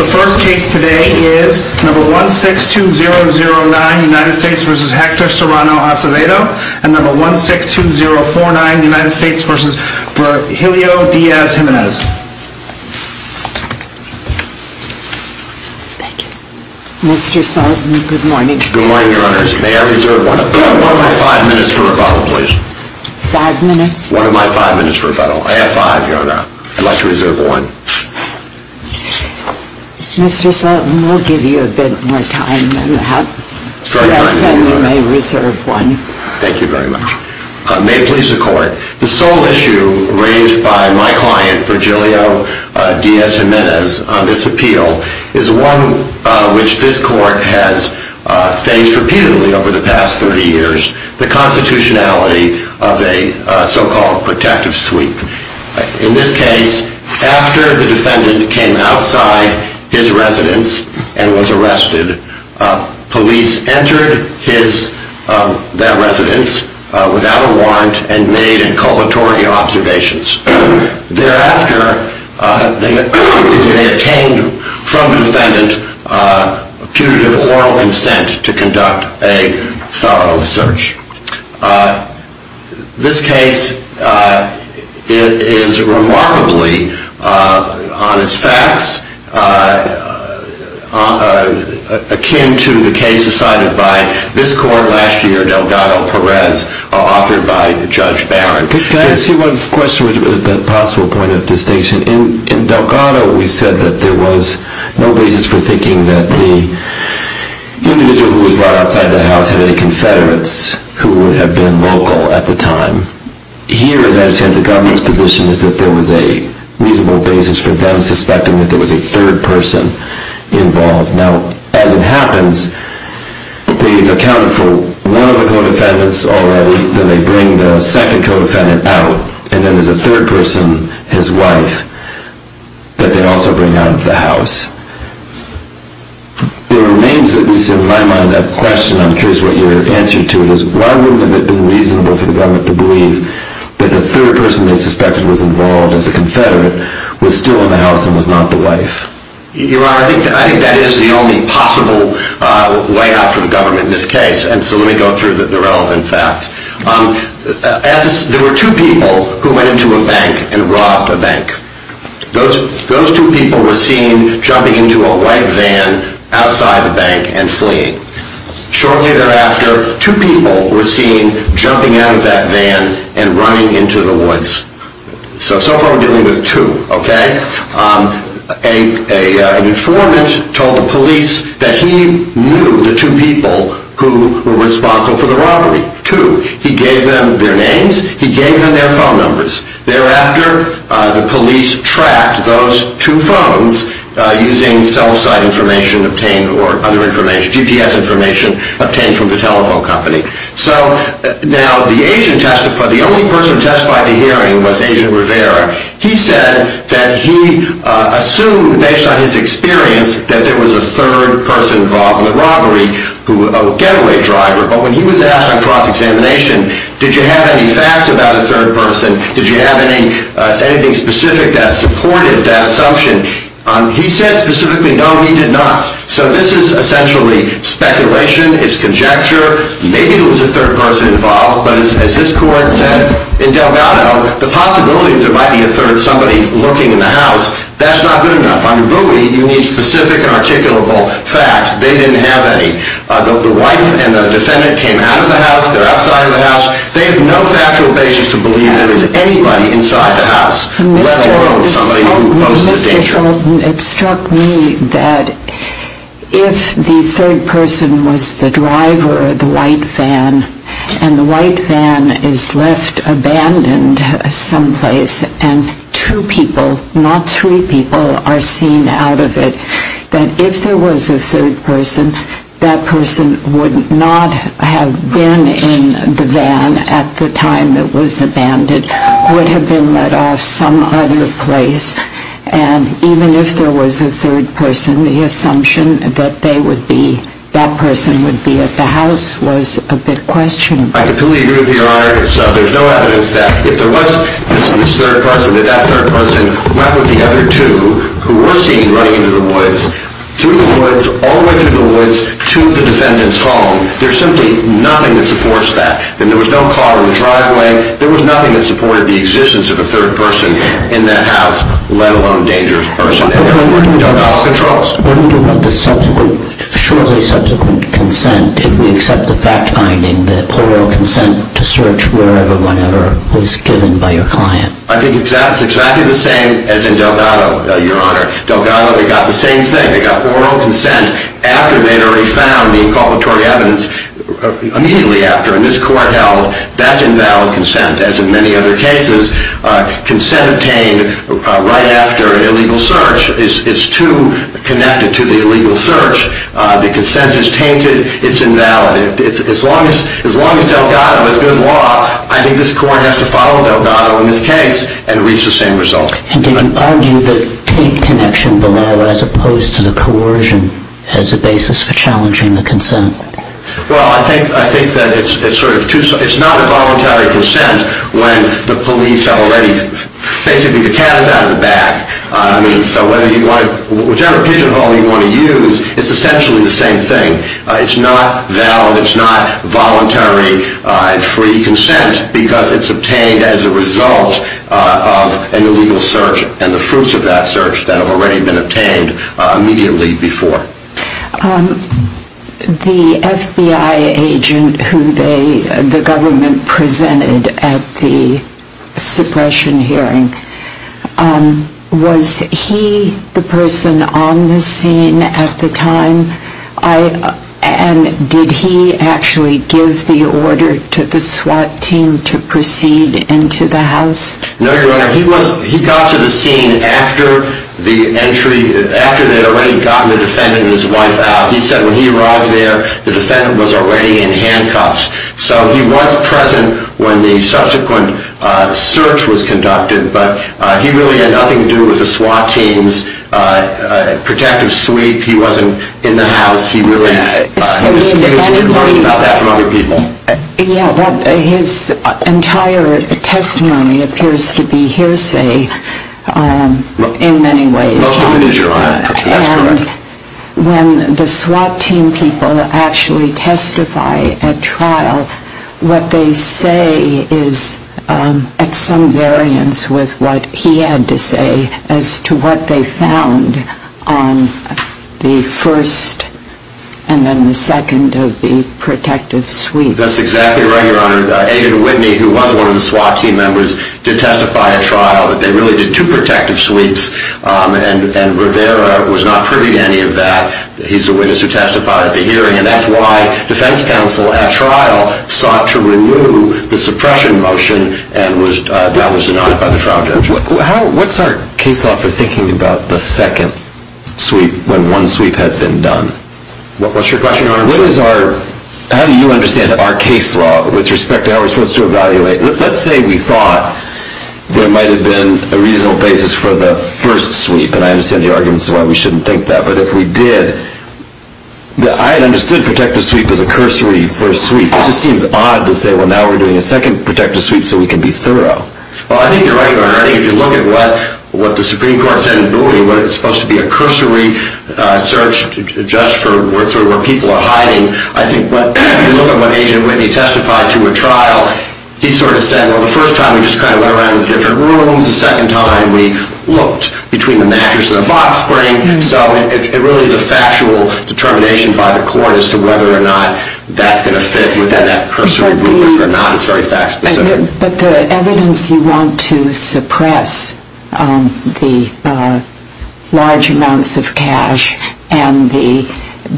The first case today is 162009 United States v. Hector Serrano-Acevedo and 162049 United States v. Helio Diaz Jimenez. Thank you. Mr. Sultan, good morning. Good morning, Your Honors. May I reserve one of my five minutes for rebuttal, please? Five minutes? One of my five minutes for rebuttal. I have five, Your Honor. I'd like to reserve one. Mr. Sultan, we'll give you a bit more time than that. It's very kind of you, Your Honor. Yes, and you may reserve one. Thank you very much. May it please the Court, the sole issue raised by my client, Virgilio Diaz Jimenez, on this appeal is one which this Court has faced repeatedly over the past 30 years, the constitutionality of a so-called protective sweep. In this case, after the defendant came outside his residence and was arrested, police entered that residence without a warrant and made inculpatory observations. Thereafter, they obtained from the defendant punitive oral consent to conduct a thorough search. This case is remarkably, on its facts, akin to the case decided by this Court last year, Delgado Perez, authored by Judge Barron. Your Honor, can I ask you one question with a possible point of distinction? In Delgado, we said that there was no basis for thinking that the individual who was brought outside the house had any Confederates who would have been local at the time. Here, as I understand, the government's position is that there was a reasonable basis for them suspecting that there was a third person involved. Now, as it happens, they've accounted for one of the co-defendants already, then they bring the second co-defendant out, and then there's a third person, his wife, that they also bring out of the house. It remains, at least in my mind, a question. I'm curious what your answer to it is. Why wouldn't it have been reasonable for the government to believe that the third person they suspected was involved, as a Confederate, was still in the house and was not the wife? Your Honor, I think that is the only possible way out for the government in this case, and so let me go through the relevant facts. There were two people who went into a bank and robbed a bank. Those two people were seen jumping into a white van outside the bank and fleeing. Shortly thereafter, two people were seen jumping out of that van and running into the woods. So far we're dealing with two, okay? An informant told the police that he knew the two people who were responsible for the robbery. Two. He gave them their names, he gave them their phone numbers. Thereafter, the police tracked those two phones using cell site information obtained or other information, GPS information obtained from the telephone company. So now the only person to testify at the hearing was Agent Rivera. He said that he assumed, based on his experience, that there was a third person involved in the robbery, a getaway driver. But when he was asked on cross-examination, did you have any facts about a third person? Did you have anything specific that supported that assumption? He said specifically, no, he did not. So this is essentially speculation, it's conjecture. Maybe there was a third person involved, but as this court said, in Delgado, the possibility that there might be a third somebody lurking in the house, that's not good enough. On Rui, you need specific and articulable facts. They didn't have any. The wife and the defendant came out of the house, they're outside of the house. They have no factual basis to believe there is anybody inside the house, let alone somebody who poses a danger. It struck me that if the third person was the driver of the white van, and the white van is left abandoned someplace, and two people, not three people, are seen out of it, that if there was a third person, that person would not have been in the van at the time it was abandoned, would have been let off some other place. And even if there was a third person, the assumption that they would be, that person would be at the house was a bit questionable. I completely agree with you, Your Honor. So there's no evidence that if there was this third person, that that third person went with the other two, who were seen running into the woods, through the woods, all the way through the woods, to the defendant's home. There's simply nothing that supports that. And there was no car in the driveway. There was nothing that supported the existence of a third person in that house, let alone a dangerous person. Therefore, Delgado controls. What do you do about the shortly subsequent consent if we accept the fact-finding that oral consent to search wherever, whenever, was given by your client? I think that's exactly the same as in Delgado, Your Honor. Delgado, they got the same thing. They got oral consent after they'd already found the inculpatory evidence, immediately after. And this court held that's invalid consent, as in many other cases. Consent obtained right after an illegal search is too connected to the illegal search. The consent is tainted. It's invalid. As long as Delgado has good law, I think this court has to follow Delgado in this case and reach the same result. And did you argue that tape connection below, as opposed to the coercion, has a basis for challenging the consent? Well, I think that it's not a voluntary consent when the police are already basically the cat is out of the bag. So whichever pigeonhole you want to use, it's essentially the same thing. It's not valid. It's not voluntary free consent because it's obtained as a result of an illegal search and the fruits of that search that have already been obtained immediately before. The FBI agent who the government presented at the suppression hearing, was he the person on the scene at the time? And did he actually give the order to the SWAT team to proceed into the house? No, Your Honor. He got to the scene after they had already gotten the defendant and his wife out. He said when he arrived there, the defendant was already in handcuffs. So he was present when the subsequent search was conducted, but he really had nothing to do with the SWAT team's protective sweep. He wasn't in the house. He was learning about that from other people. Yeah, but his entire testimony appears to be hearsay in many ways. Well, it is, Your Honor. That's correct. And when the SWAT team people actually testify at trial, what they say is at some variance with what he had to say as to what they found on the first and then the second of the protective sweep. That's exactly right, Your Honor. Agent Whitney, who was one of the SWAT team members, did testify at trial. They really did two protective sweeps, and Rivera was not privy to any of that. He's the witness who testified at the hearing, and that's why defense counsel at trial sought to remove the suppression motion that was denied by the trial judge. What's our case law for thinking about the second sweep when one sweep has been done? What's your question, Your Honor? How do you understand our case law with respect to how we're supposed to evaluate? Let's say we thought there might have been a reasonable basis for the first sweep, and I understand the arguments of why we shouldn't think that. But if we did, I understood protective sweep as a cursory first sweep. It just seems odd to say, well, now we're doing a second protective sweep so we can be thorough. Well, I think you're right, Your Honor. I think if you look at what the Supreme Court said in Bowie, where it's supposed to be a cursory search just for where people are hiding, I think if you look at what Agent Whitney testified to at trial, he sort of said, well, the first time we just kind of went around in different rooms. The second time we looked between the mattress and the box spring. So it really is a factual determination by the court as to whether or not that's going to fit within that cursory rubric or not. It's very fact-specific. But the evidence you want to suppress the large amounts of cash and the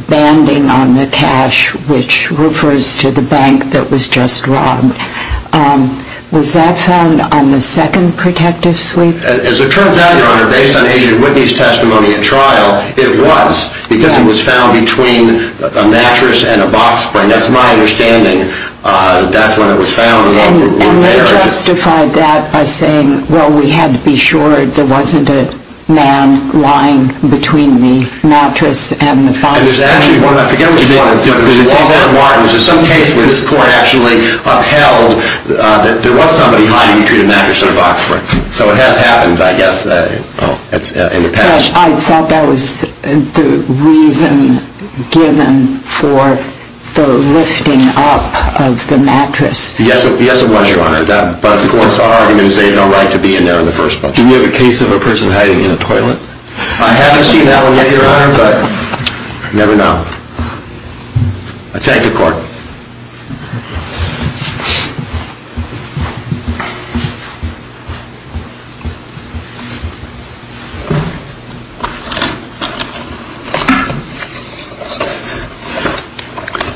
banding on the cash which refers to the bank that was just robbed, was that found on the second protective sweep? As it turns out, Your Honor, based on Agent Whitney's testimony at trial, it was because it was found between a mattress and a box spring. That's my understanding. That's when it was found. And they justified that by saying, well, we had to be sure there wasn't a man lying between the mattress and the box spring. I forget which one. Was there some case where this court actually upheld that there was somebody hiding between a mattress and a box spring? So it has happened, I guess, in the past. I thought that was the reason given for the lifting up of the mattress. Yes, it was, Your Honor. But as the court saw it, I'm going to say you have no right to be in there in the first place. Do you have a case of a person hiding in a toilet? I haven't seen that one yet, Your Honor, but you never know. I thank the court.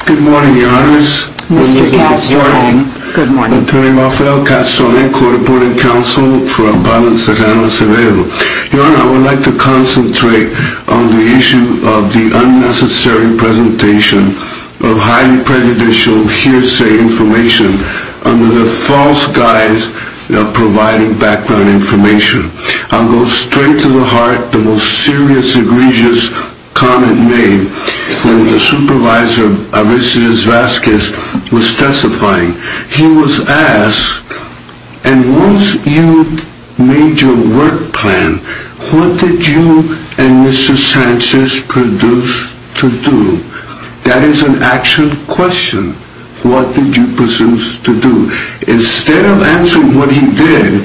Good morning, Your Honors. Mr. Castrone. Good morning. Attorney Rafael Castrone, Court Reporting Counsel for Appellant Serrano Cervejo. Your Honor, I would like to concentrate on the issue of the unnecessary presentation of highly prejudicial hearsay information under the false guise of providing background information. I'll go straight to the heart, the most serious, egregious comment made when the supervisor of Isidro Vasquez was testifying. He was asked, and once you made your work plan, what did you and Mr. Sanchez produce to do? That is an actual question. What did you produce to do? Instead of answering what he did,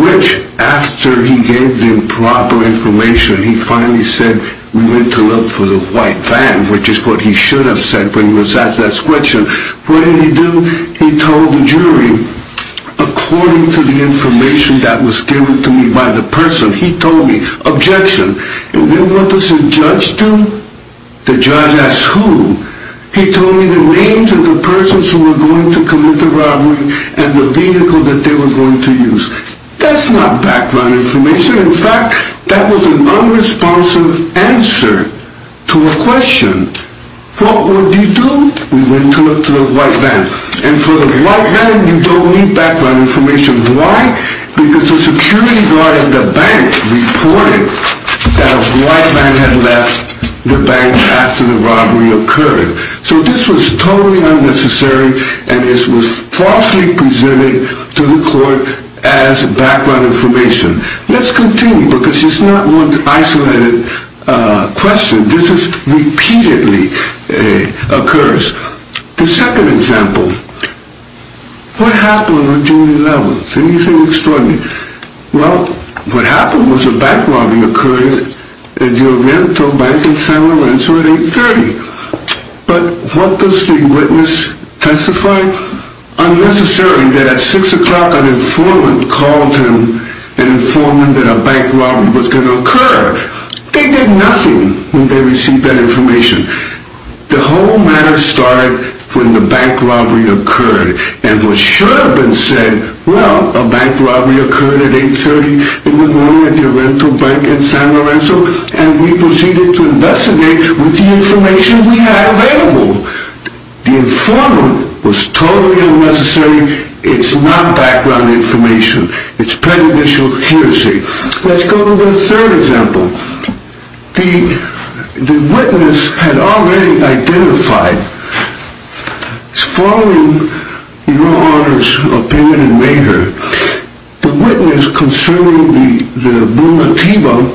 which, after he gave them proper information, he finally said, we went to look for the white van, which is what he should have said when he was asked that question, what did he do? He told the jury, according to the information that was given to me by the person, he told me, objection, and what does a judge do? The judge asks who? He told me the names of the persons who were going to commit the robbery and the vehicle that they were going to use. That's not background information. In fact, that was an unresponsive answer to a question. What would you do? We went to look for the white van. And for the white van, you don't need background information. Why? Because the security guard at the bank reported that a white van had left the bank after the robbery occurred. So this was totally unnecessary, and this was falsely presented to the court as background information. Let's continue, because it's not one isolated question. This is repeatedly occurs. The second example, what happened on a jury level? Anything extraordinary? Well, what happened was a bank robbery occurred at the Oriental Bank in San Lorenzo at 8.30. But what does the witness testify? Unnecessarily that at 6 o'clock an informant called him and informed him that a bank robbery was going to occur. They did nothing when they received that information. The whole matter started when the bank robbery occurred. And what should have been said, well, a bank robbery occurred at 8.30 in the morning at the Oriental Bank in San Lorenzo. And we proceeded to investigate with the information we had available. The informant was totally unnecessary. It's not background information. It's prejudicial accuracy. Let's go to the third example. The witness had already identified, following your Honor's opinion in Mayhear, the witness concerning the Brunatino,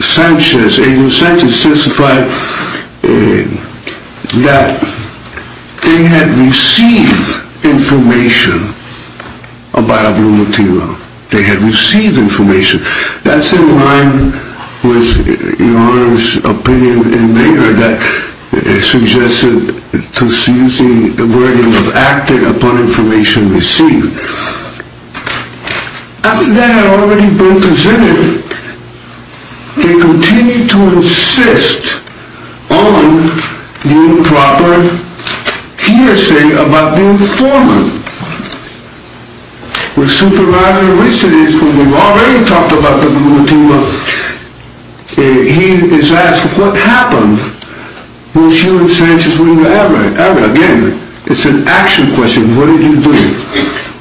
Sanchez, A.J. Sanchez testified that they had received information about Brunatino. They had received information. That's in line with your Honor's opinion in Mayhear that suggested to seize the burden of acting upon information received. After that had already been presented, they continued to insist on the improper hearsay about the informant. When Supervisor Richard is, when we've already talked about the Brunatino, he is asked, what happened was you and Sanchez were in the area? Again, it's an action question. What did you do?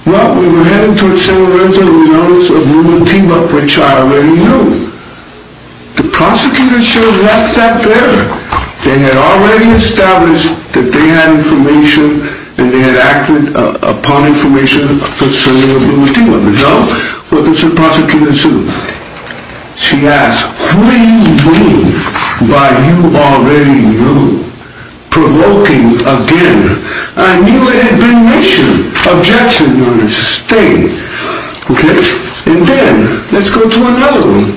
Well, we were heading towards San Lorenzo and we noticed a Brunatino, which I already knew. The prosecutor should have left that there. They had already established that they had information and they had acted upon information concerning the Brunatino. No? Well, the prosecutor assumed. She asked, who do you mean by you already knew? Provoking again. I knew it had been an issue. Objection, Your Honor. Stay. Okay? And then, let's go to another one.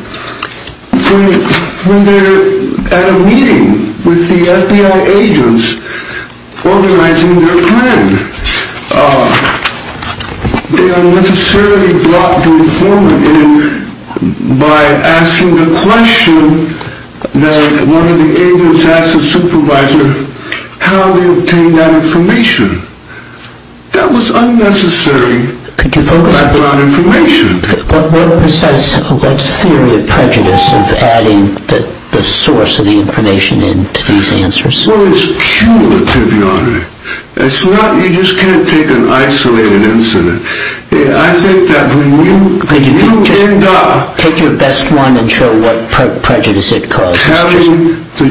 When they're at a meeting with the FBI agents organizing their plan, they unnecessarily block the informant in by asking the question that one of the agents asked the supervisor, how do you obtain that information? That was unnecessary background information. What's the theory of prejudice of adding the source of the information in to these answers? Well, it's cumulative, Your Honor. You just can't take an isolated incident. I think that when you end up telling the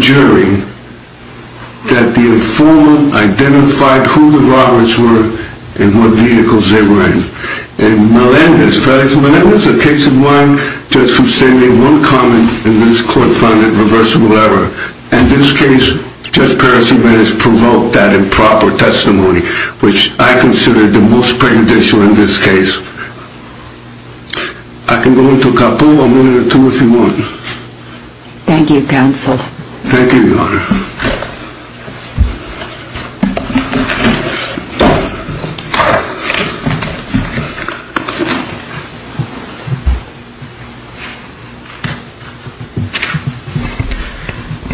jury that the informant identified who the Roberts were and what vehicles they were in. And Melendez, Frederick Melendez, a case in one, just for sending one comment in this court-funded reversible error. In this case, Judge Percival has provoked that improper testimony, which I consider the most prejudicial in this case. I can go on to a couple. I'll go on to two if you want. Thank you, counsel. Thank you, Your Honor.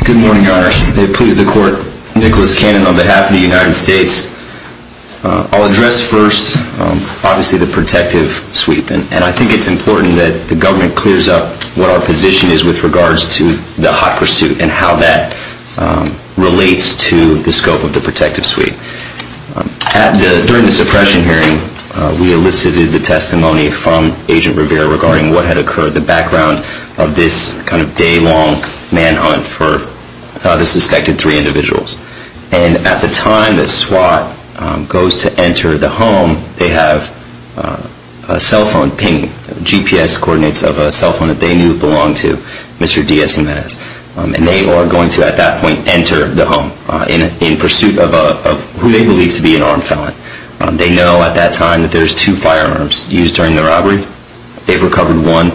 Good morning, Your Honor. May it please the court, Nicholas Cannon on behalf of the United States. I'll address first, obviously, the protective sweep. And I think it's important that the government clears up what our position is with regards to the hot pursuit and how that relates to the scope of the protective sweep. We have received the testimony from Agent Rivera regarding what had occurred, the background of this kind of day-long manhunt for the suspected three individuals. And at the time the SWAT goes to enter the home, they have a cell phone pinging, GPS coordinates of a cell phone that they knew belonged to Mr. D.S. and Ms. And they are going to, at that point, enter the home in pursuit of who they believe to be an armed felon. They know at that time that there's two firearms used during the robbery. They've recovered one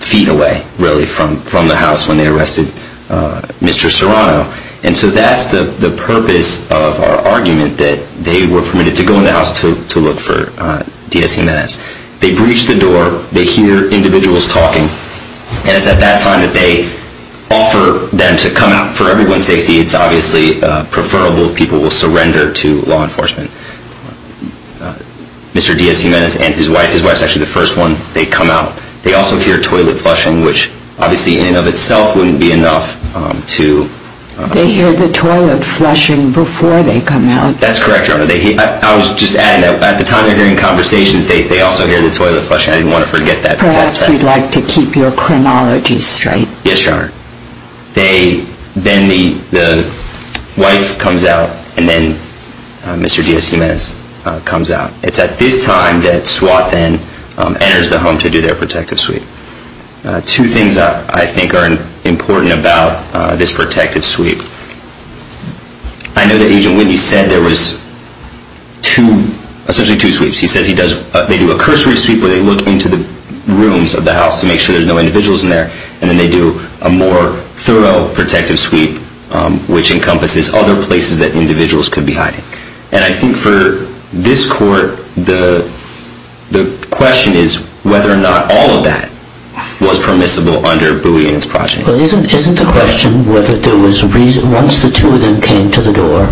feet away, really, from the house when they arrested Mr. Serrano. And so that's the purpose of our argument that they were permitted to go in the house to look for D.S. and Ms. They breach the door. They hear individuals talking. And it's at that time that they offer them to come out. For everyone's safety, it's obviously preferable if people will surrender to law enforcement. Mr. D.S. Jimenez and his wife, his wife's actually the first one, they come out. They also hear toilet flushing, which obviously in and of itself wouldn't be enough to... They hear the toilet flushing before they come out. That's correct, Your Honor. I was just adding that at the time they're hearing conversations, they also hear the toilet flushing. I didn't want to forget that. Yes, Your Honor. Then the wife comes out, and then Mr. D.S. Jimenez comes out. It's at this time that SWAT then enters the home to do their protective sweep. Two things I think are important about this protective sweep. I know that Agent Whitney said there was essentially two sweeps. He says they do a cursory sweep where they look into the rooms of the house to make sure there's no individuals in there, and then they do a more thorough protective sweep, which encompasses other places that individuals could be hiding. And I think for this court, the question is whether or not all of that was permissible under Booey and his project. Well, isn't the question whether there was a reason, once the two of them came to the door,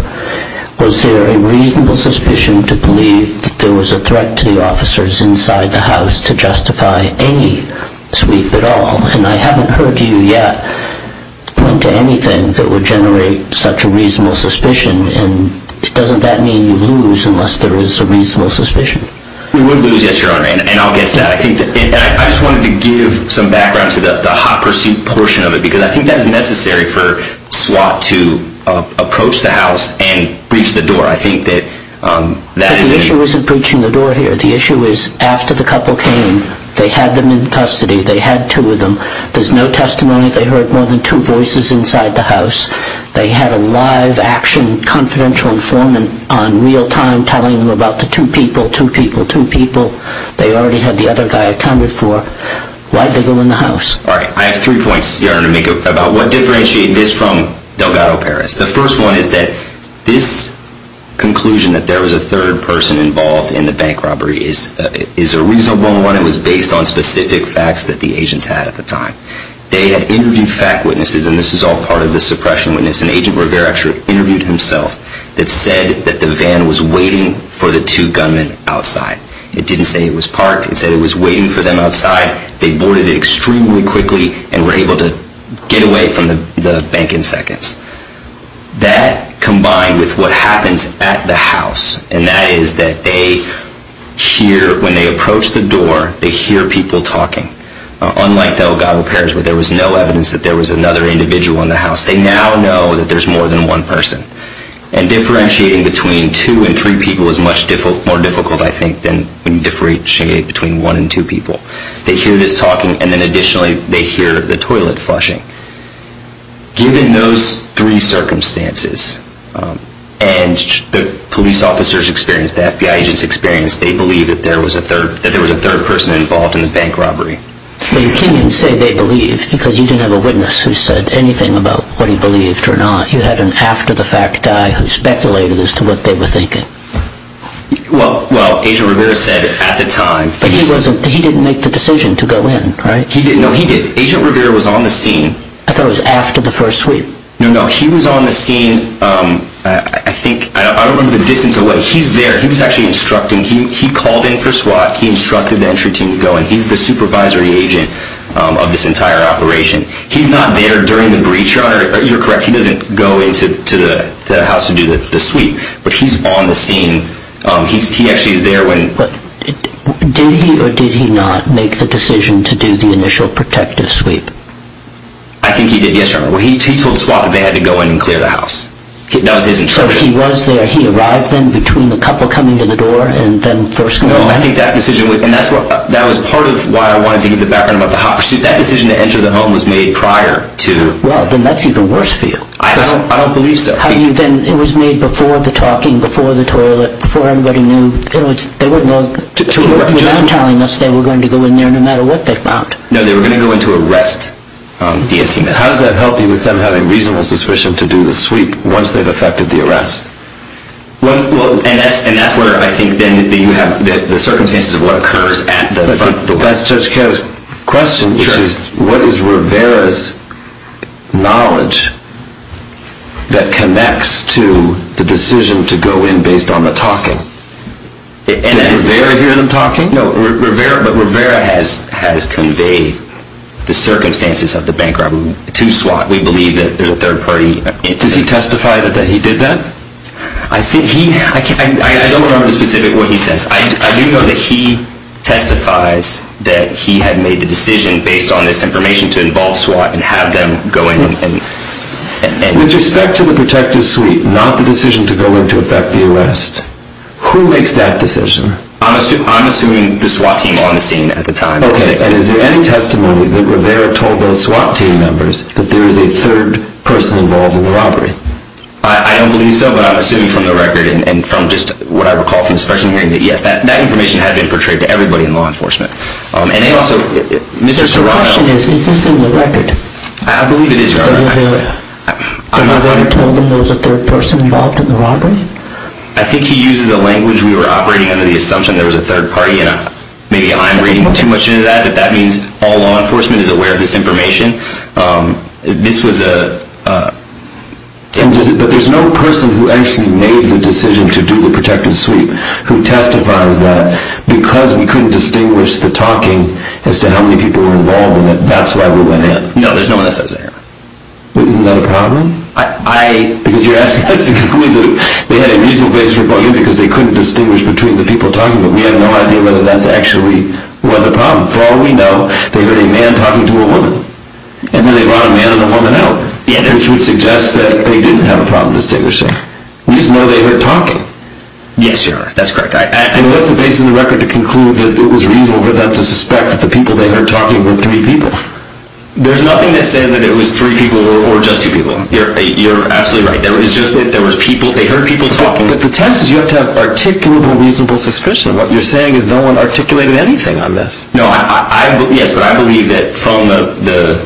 was there a reasonable suspicion to believe that there was a threat to the officers inside the house to justify any sweep at all? And I haven't heard you yet point to anything that would generate such a reasonable suspicion, and doesn't that mean you lose unless there is a reasonable suspicion? We would lose, yes, Your Honor, and I'll guess that. I just wanted to give some background to the hot pursuit portion of it, because I think that is necessary for SWAT to approach the house and breach the door. I think that that is... But the issue isn't breaching the door here. The issue is after the couple came, they had them in custody. They had two of them. There's no testimony. They heard more than two voices inside the house. They had a live action confidential informant on real time telling them about the two people, two people, two people. They already had the other guy accounted for. Why did they go in the house? All right. I have three points, Your Honor, to make about what differentiates this from Delgado Paris. The first one is that this conclusion that there was a third person involved in the bank robbery is a reasonable one. It was based on specific facts that the agents had at the time. They had interviewed fact witnesses, and this is all part of the suppression witness, and Agent Rivera actually interviewed himself, that said that the van was waiting for the two gunmen outside. It didn't say it was parked. It said it was waiting for them outside. They boarded it extremely quickly and were able to get away from the bank in seconds. That combined with what happens at the house, and that is that they hear, when they approach the door, they hear people talking. Unlike Delgado Paris where there was no evidence that there was another individual in the house, they now know that there's more than one person. And differentiating between two and three people is much more difficult, I think, than differentiating between one and two people. They hear this talking, and then additionally they hear the toilet flushing. Given those three circumstances and the police officers' experience, the FBI agents' experience, they believe that there was a third person involved in the bank robbery. But you can't even say they believe because you didn't have a witness who said anything about what he believed or not. You had an after-the-fact guy who speculated as to what they were thinking. Well, Agent Rivera said at the time. But he didn't make the decision to go in, right? No, he did. Agent Rivera was on the scene. I thought it was after the first sweep. No, no. He was on the scene, I think, I don't remember the distance away. He's there. He was actually instructing. He called in for SWAT. He instructed the entry team to go in. He's the supervisory agent of this entire operation. He's not there during the breach, Your Honor. You're correct. He doesn't go into the house to do the sweep. But he's on the scene. He actually is there when... Did he or did he not make the decision to do the initial protective sweep? I think he did, yes, Your Honor. He told SWAT that they had to go in and clear the house. That was his instruction. So he was there. He arrived then between the couple coming to the door and them first going in? No, I think that decision, and that was part of why I wanted to give the background about the hot pursuit. That decision to enter the home was made prior to... Well, then that's even worse for you. I don't believe so. It was made before the talking, before the toilet, before anybody knew. They wouldn't know. They weren't telling us they were going to go in there no matter what they found. No, they were going to go in to arrest the NCMS. How does that help you with them having reasonable suspicion to do the sweep once they've effected the arrest? And that's where I think then you have the circumstances of what occurs at the front door. Well, that's Judge Kerr's question, which is what is Rivera's knowledge that connects to the decision to go in based on the talking? Does Rivera hear them talking? No, but Rivera has conveyed the circumstances of the bank robbery to SWAT. We believe that there's a third party... Does he testify that he did that? I don't remember specifically what he says. I do know that he testifies that he had made the decision based on this information to involve SWAT and have them go in and... With respect to the protective sweep, not the decision to go in to effect the arrest, who makes that decision? I'm assuming the SWAT team on the scene at the time. Okay, and is there any testimony that Rivera told those SWAT team members that there is a third person involved in the robbery? I don't believe so, but I'm assuming from the record and from just what I recall from the special hearing that yes, that information had been portrayed to everybody in law enforcement. And they also... But the question is, is this in the record? I believe it is, Your Honor. That Rivera told them there was a third person involved in the robbery? I think he uses the language we were operating under the assumption there was a third party, and maybe I'm reading too much into that, but that means all law enforcement is aware of this information. This was a... But there's no person who actually made the decision to do the protective sweep who testifies that because we couldn't distinguish the talking as to how many people were involved in it, that's why we went in. No, there's no one that says that, Your Honor. Isn't that a problem? I... Because you're asking us to conclude that they had a reasonable basis for going in because they couldn't distinguish between the people talking, but we have no idea whether that actually was a problem. For all we know, they heard a man talking to a woman, and then they brought a man and a woman out, which would suggest that they didn't have a problem distinguishing. We just know they heard talking. Yes, Your Honor, that's correct. And what's the basis of the record to conclude that it was reasonable for them to suspect that the people they heard talking were three people? There's nothing that says that it was three people or just two people. You're absolutely right. It's just that there was people, they heard people talking. But the test is you have to have articulable, reasonable suspicion. What you're saying is no one articulated anything on this. No, I... Yes, but I believe that from the...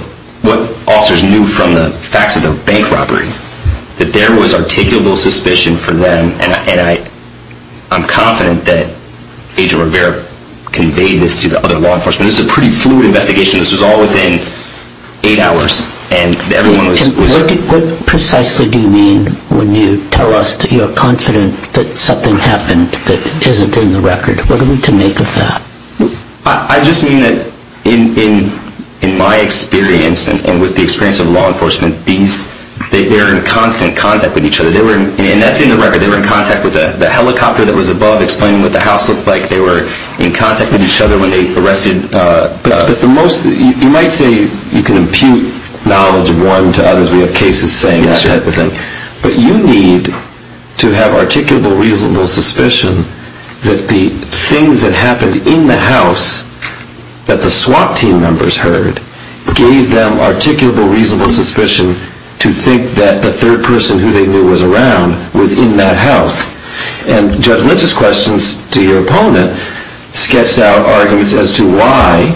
What officers knew from the facts of the bank robbery, that there was articulable suspicion for them, and I'm confident that Agent Rivera conveyed this to the other law enforcement. This is a pretty fluid investigation. This was all within eight hours, and everyone was... What precisely do you mean when you tell us that you're confident that something happened that isn't in the record? What are we to make of that? I just mean that in my experience and with the experience of law enforcement, they're in constant contact with each other. And that's in the record. They were in contact with the helicopter that was above explaining what the house looked like. They were in contact with each other when they arrested... But the most... You might say you can impute knowledge of one to others. We have cases saying that type of thing. But you need to have articulable, reasonable suspicion that the things that happened in the house that the SWAT team members heard gave them articulable, reasonable suspicion to think that the third person who they knew was around was in that house. And Judge Lynch's questions to your opponent sketched out arguments as to why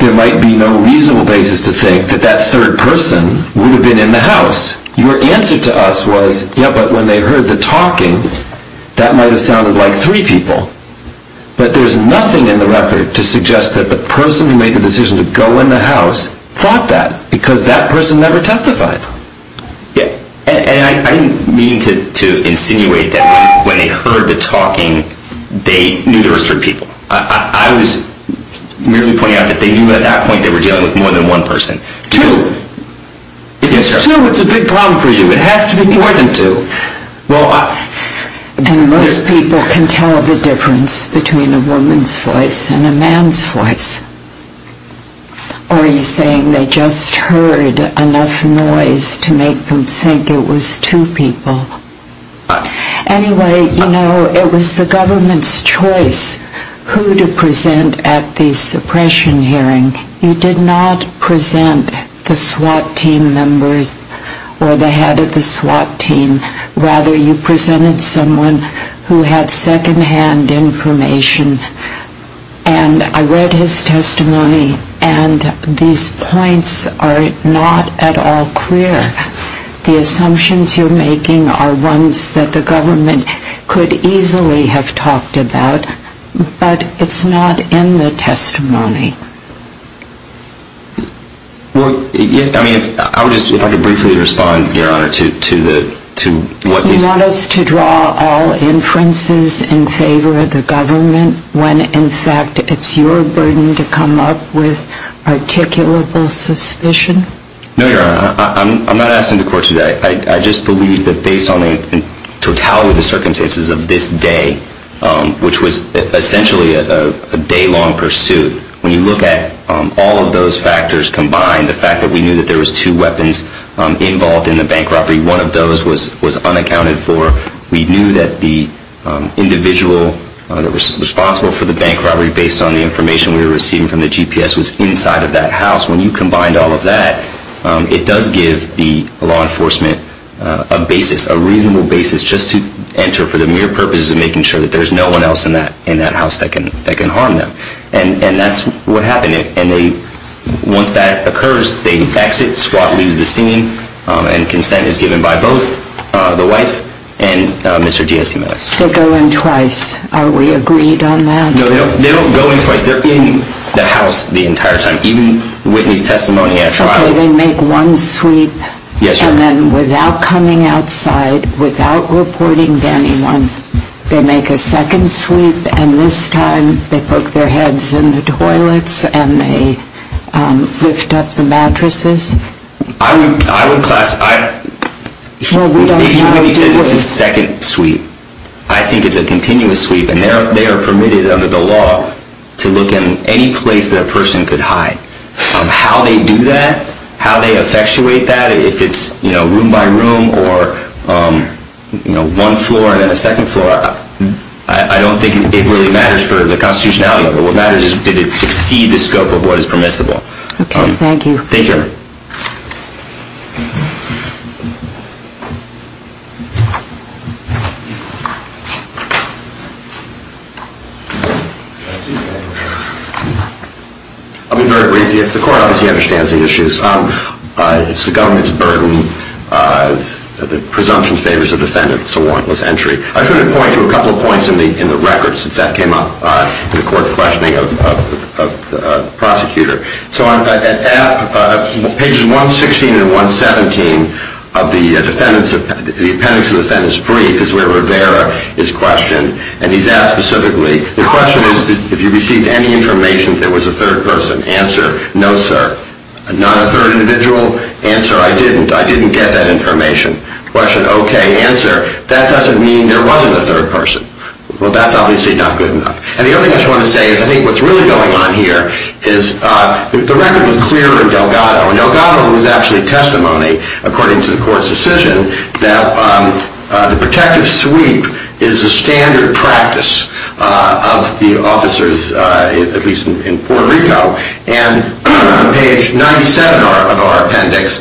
there might be no reasonable basis to think that that third person would have been in the house. Your answer to us was, yeah, but when they heard the talking, that might have sounded like three people. But there's nothing in the record to suggest that the person who made the decision to go in the house thought that, because that person never testified. And I didn't mean to insinuate that when they heard the talking, they knew there were three people. I was merely pointing out that they knew at that point they were dealing with more than one person. Two! If it's two, it's a big problem for you. It has to be more than two. And most people can tell the difference between a woman's voice and a man's voice. Or are you saying they just heard enough noise to make them think it was two people? Anyway, you know, it was the government's choice who to present at the suppression hearing. You did not present the SWAT team members or the head of the SWAT team. Rather, you presented someone who had second-hand information. And I read his testimony, and these points are not at all clear. The assumptions you're making are ones that the government could easily have talked about, but it's not in the testimony. Well, I mean, if I could briefly respond, Your Honor, to what he said. Do you want us to draw all inferences in favor of the government when, in fact, it's your burden to come up with articulable suspicion? No, Your Honor. I'm not asking the court to do that. I just believe that based on the totality of the circumstances of this day, which was essentially a day-long pursuit, when you look at all of those factors combined, the fact that we knew that there was two weapons involved in the bank robbery, one of those was unaccounted for. We knew that the individual responsible for the bank robbery, based on the information we were receiving from the GPS, was inside of that house. When you combined all of that, it does give the law enforcement a basis, a reasonable basis just to enter for the mere purposes of making sure that there's no one else in that house that can harm them. And that's what happened. And once that occurs, they exit, SWAT leaves the scene, and consent is given by both the wife and Mr. GSMX. They go in twice. Are we agreed on that? No, they don't go in twice. They're in the house the entire time. Even Whitney's testimony at a trial... Okay, they make one sweep... Yes, Your Honor. And then without coming outside, without reporting to anyone, they make a second sweep, and this time they poke their heads in the toilets and they lift up the mattresses? I would classify... Agent Whitney says it's a second sweep. I think it's a continuous sweep, and they are permitted under the law to look in any place that a person could hide. How they do that, how they effectuate that, if it's room by room or one floor and then a second floor, I don't think it really matters for the constitutionality of it. What matters is did it exceed the scope of what is permissible. Okay, thank you. Thank you, Your Honor. I'll be very brief. The court obviously understands the issues. It's the government's burden. The presumption favors a defendant. It's a warrantless entry. I should point to a couple of points in the record since that came up in the court's questioning of the prosecutor. So on pages 116 and 117 of the appendix of the defendant's brief is where Rivera is questioned, and he's asked specifically, the question is, did you receive any information that there was a third person? Answer, no, sir. Not a third individual? Answer, I didn't. I didn't get that information. Question, okay. Answer, that doesn't mean there wasn't a third person. Well, that's obviously not good enough. And the other thing I just want to say is I think what's really going on here is the record was clear in Delgado. And Delgado was actually testimony, according to the court's decision, that the protective sweep is a standard practice of the officers, at least in Puerto Rico. And on page 97 of our appendix,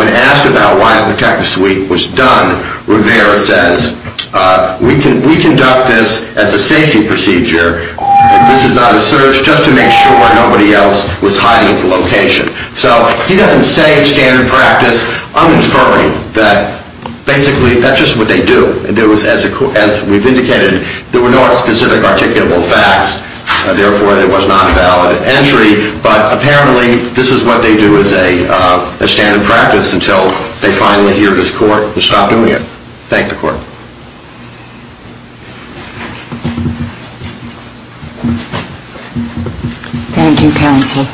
when asked about why a protective sweep was done, Rivera says, we conduct this as a safety procedure. This is not a search just to make sure nobody else was hiding at the location. So he doesn't say standard practice. I'm inferring that basically that's just what they do. As we've indicated, there were no specific articulable facts. Therefore, there was not a valid entry. But apparently this is what they do as a standard practice until they finally hear this court and stop doing it. Thank the court. Thank you, counsel.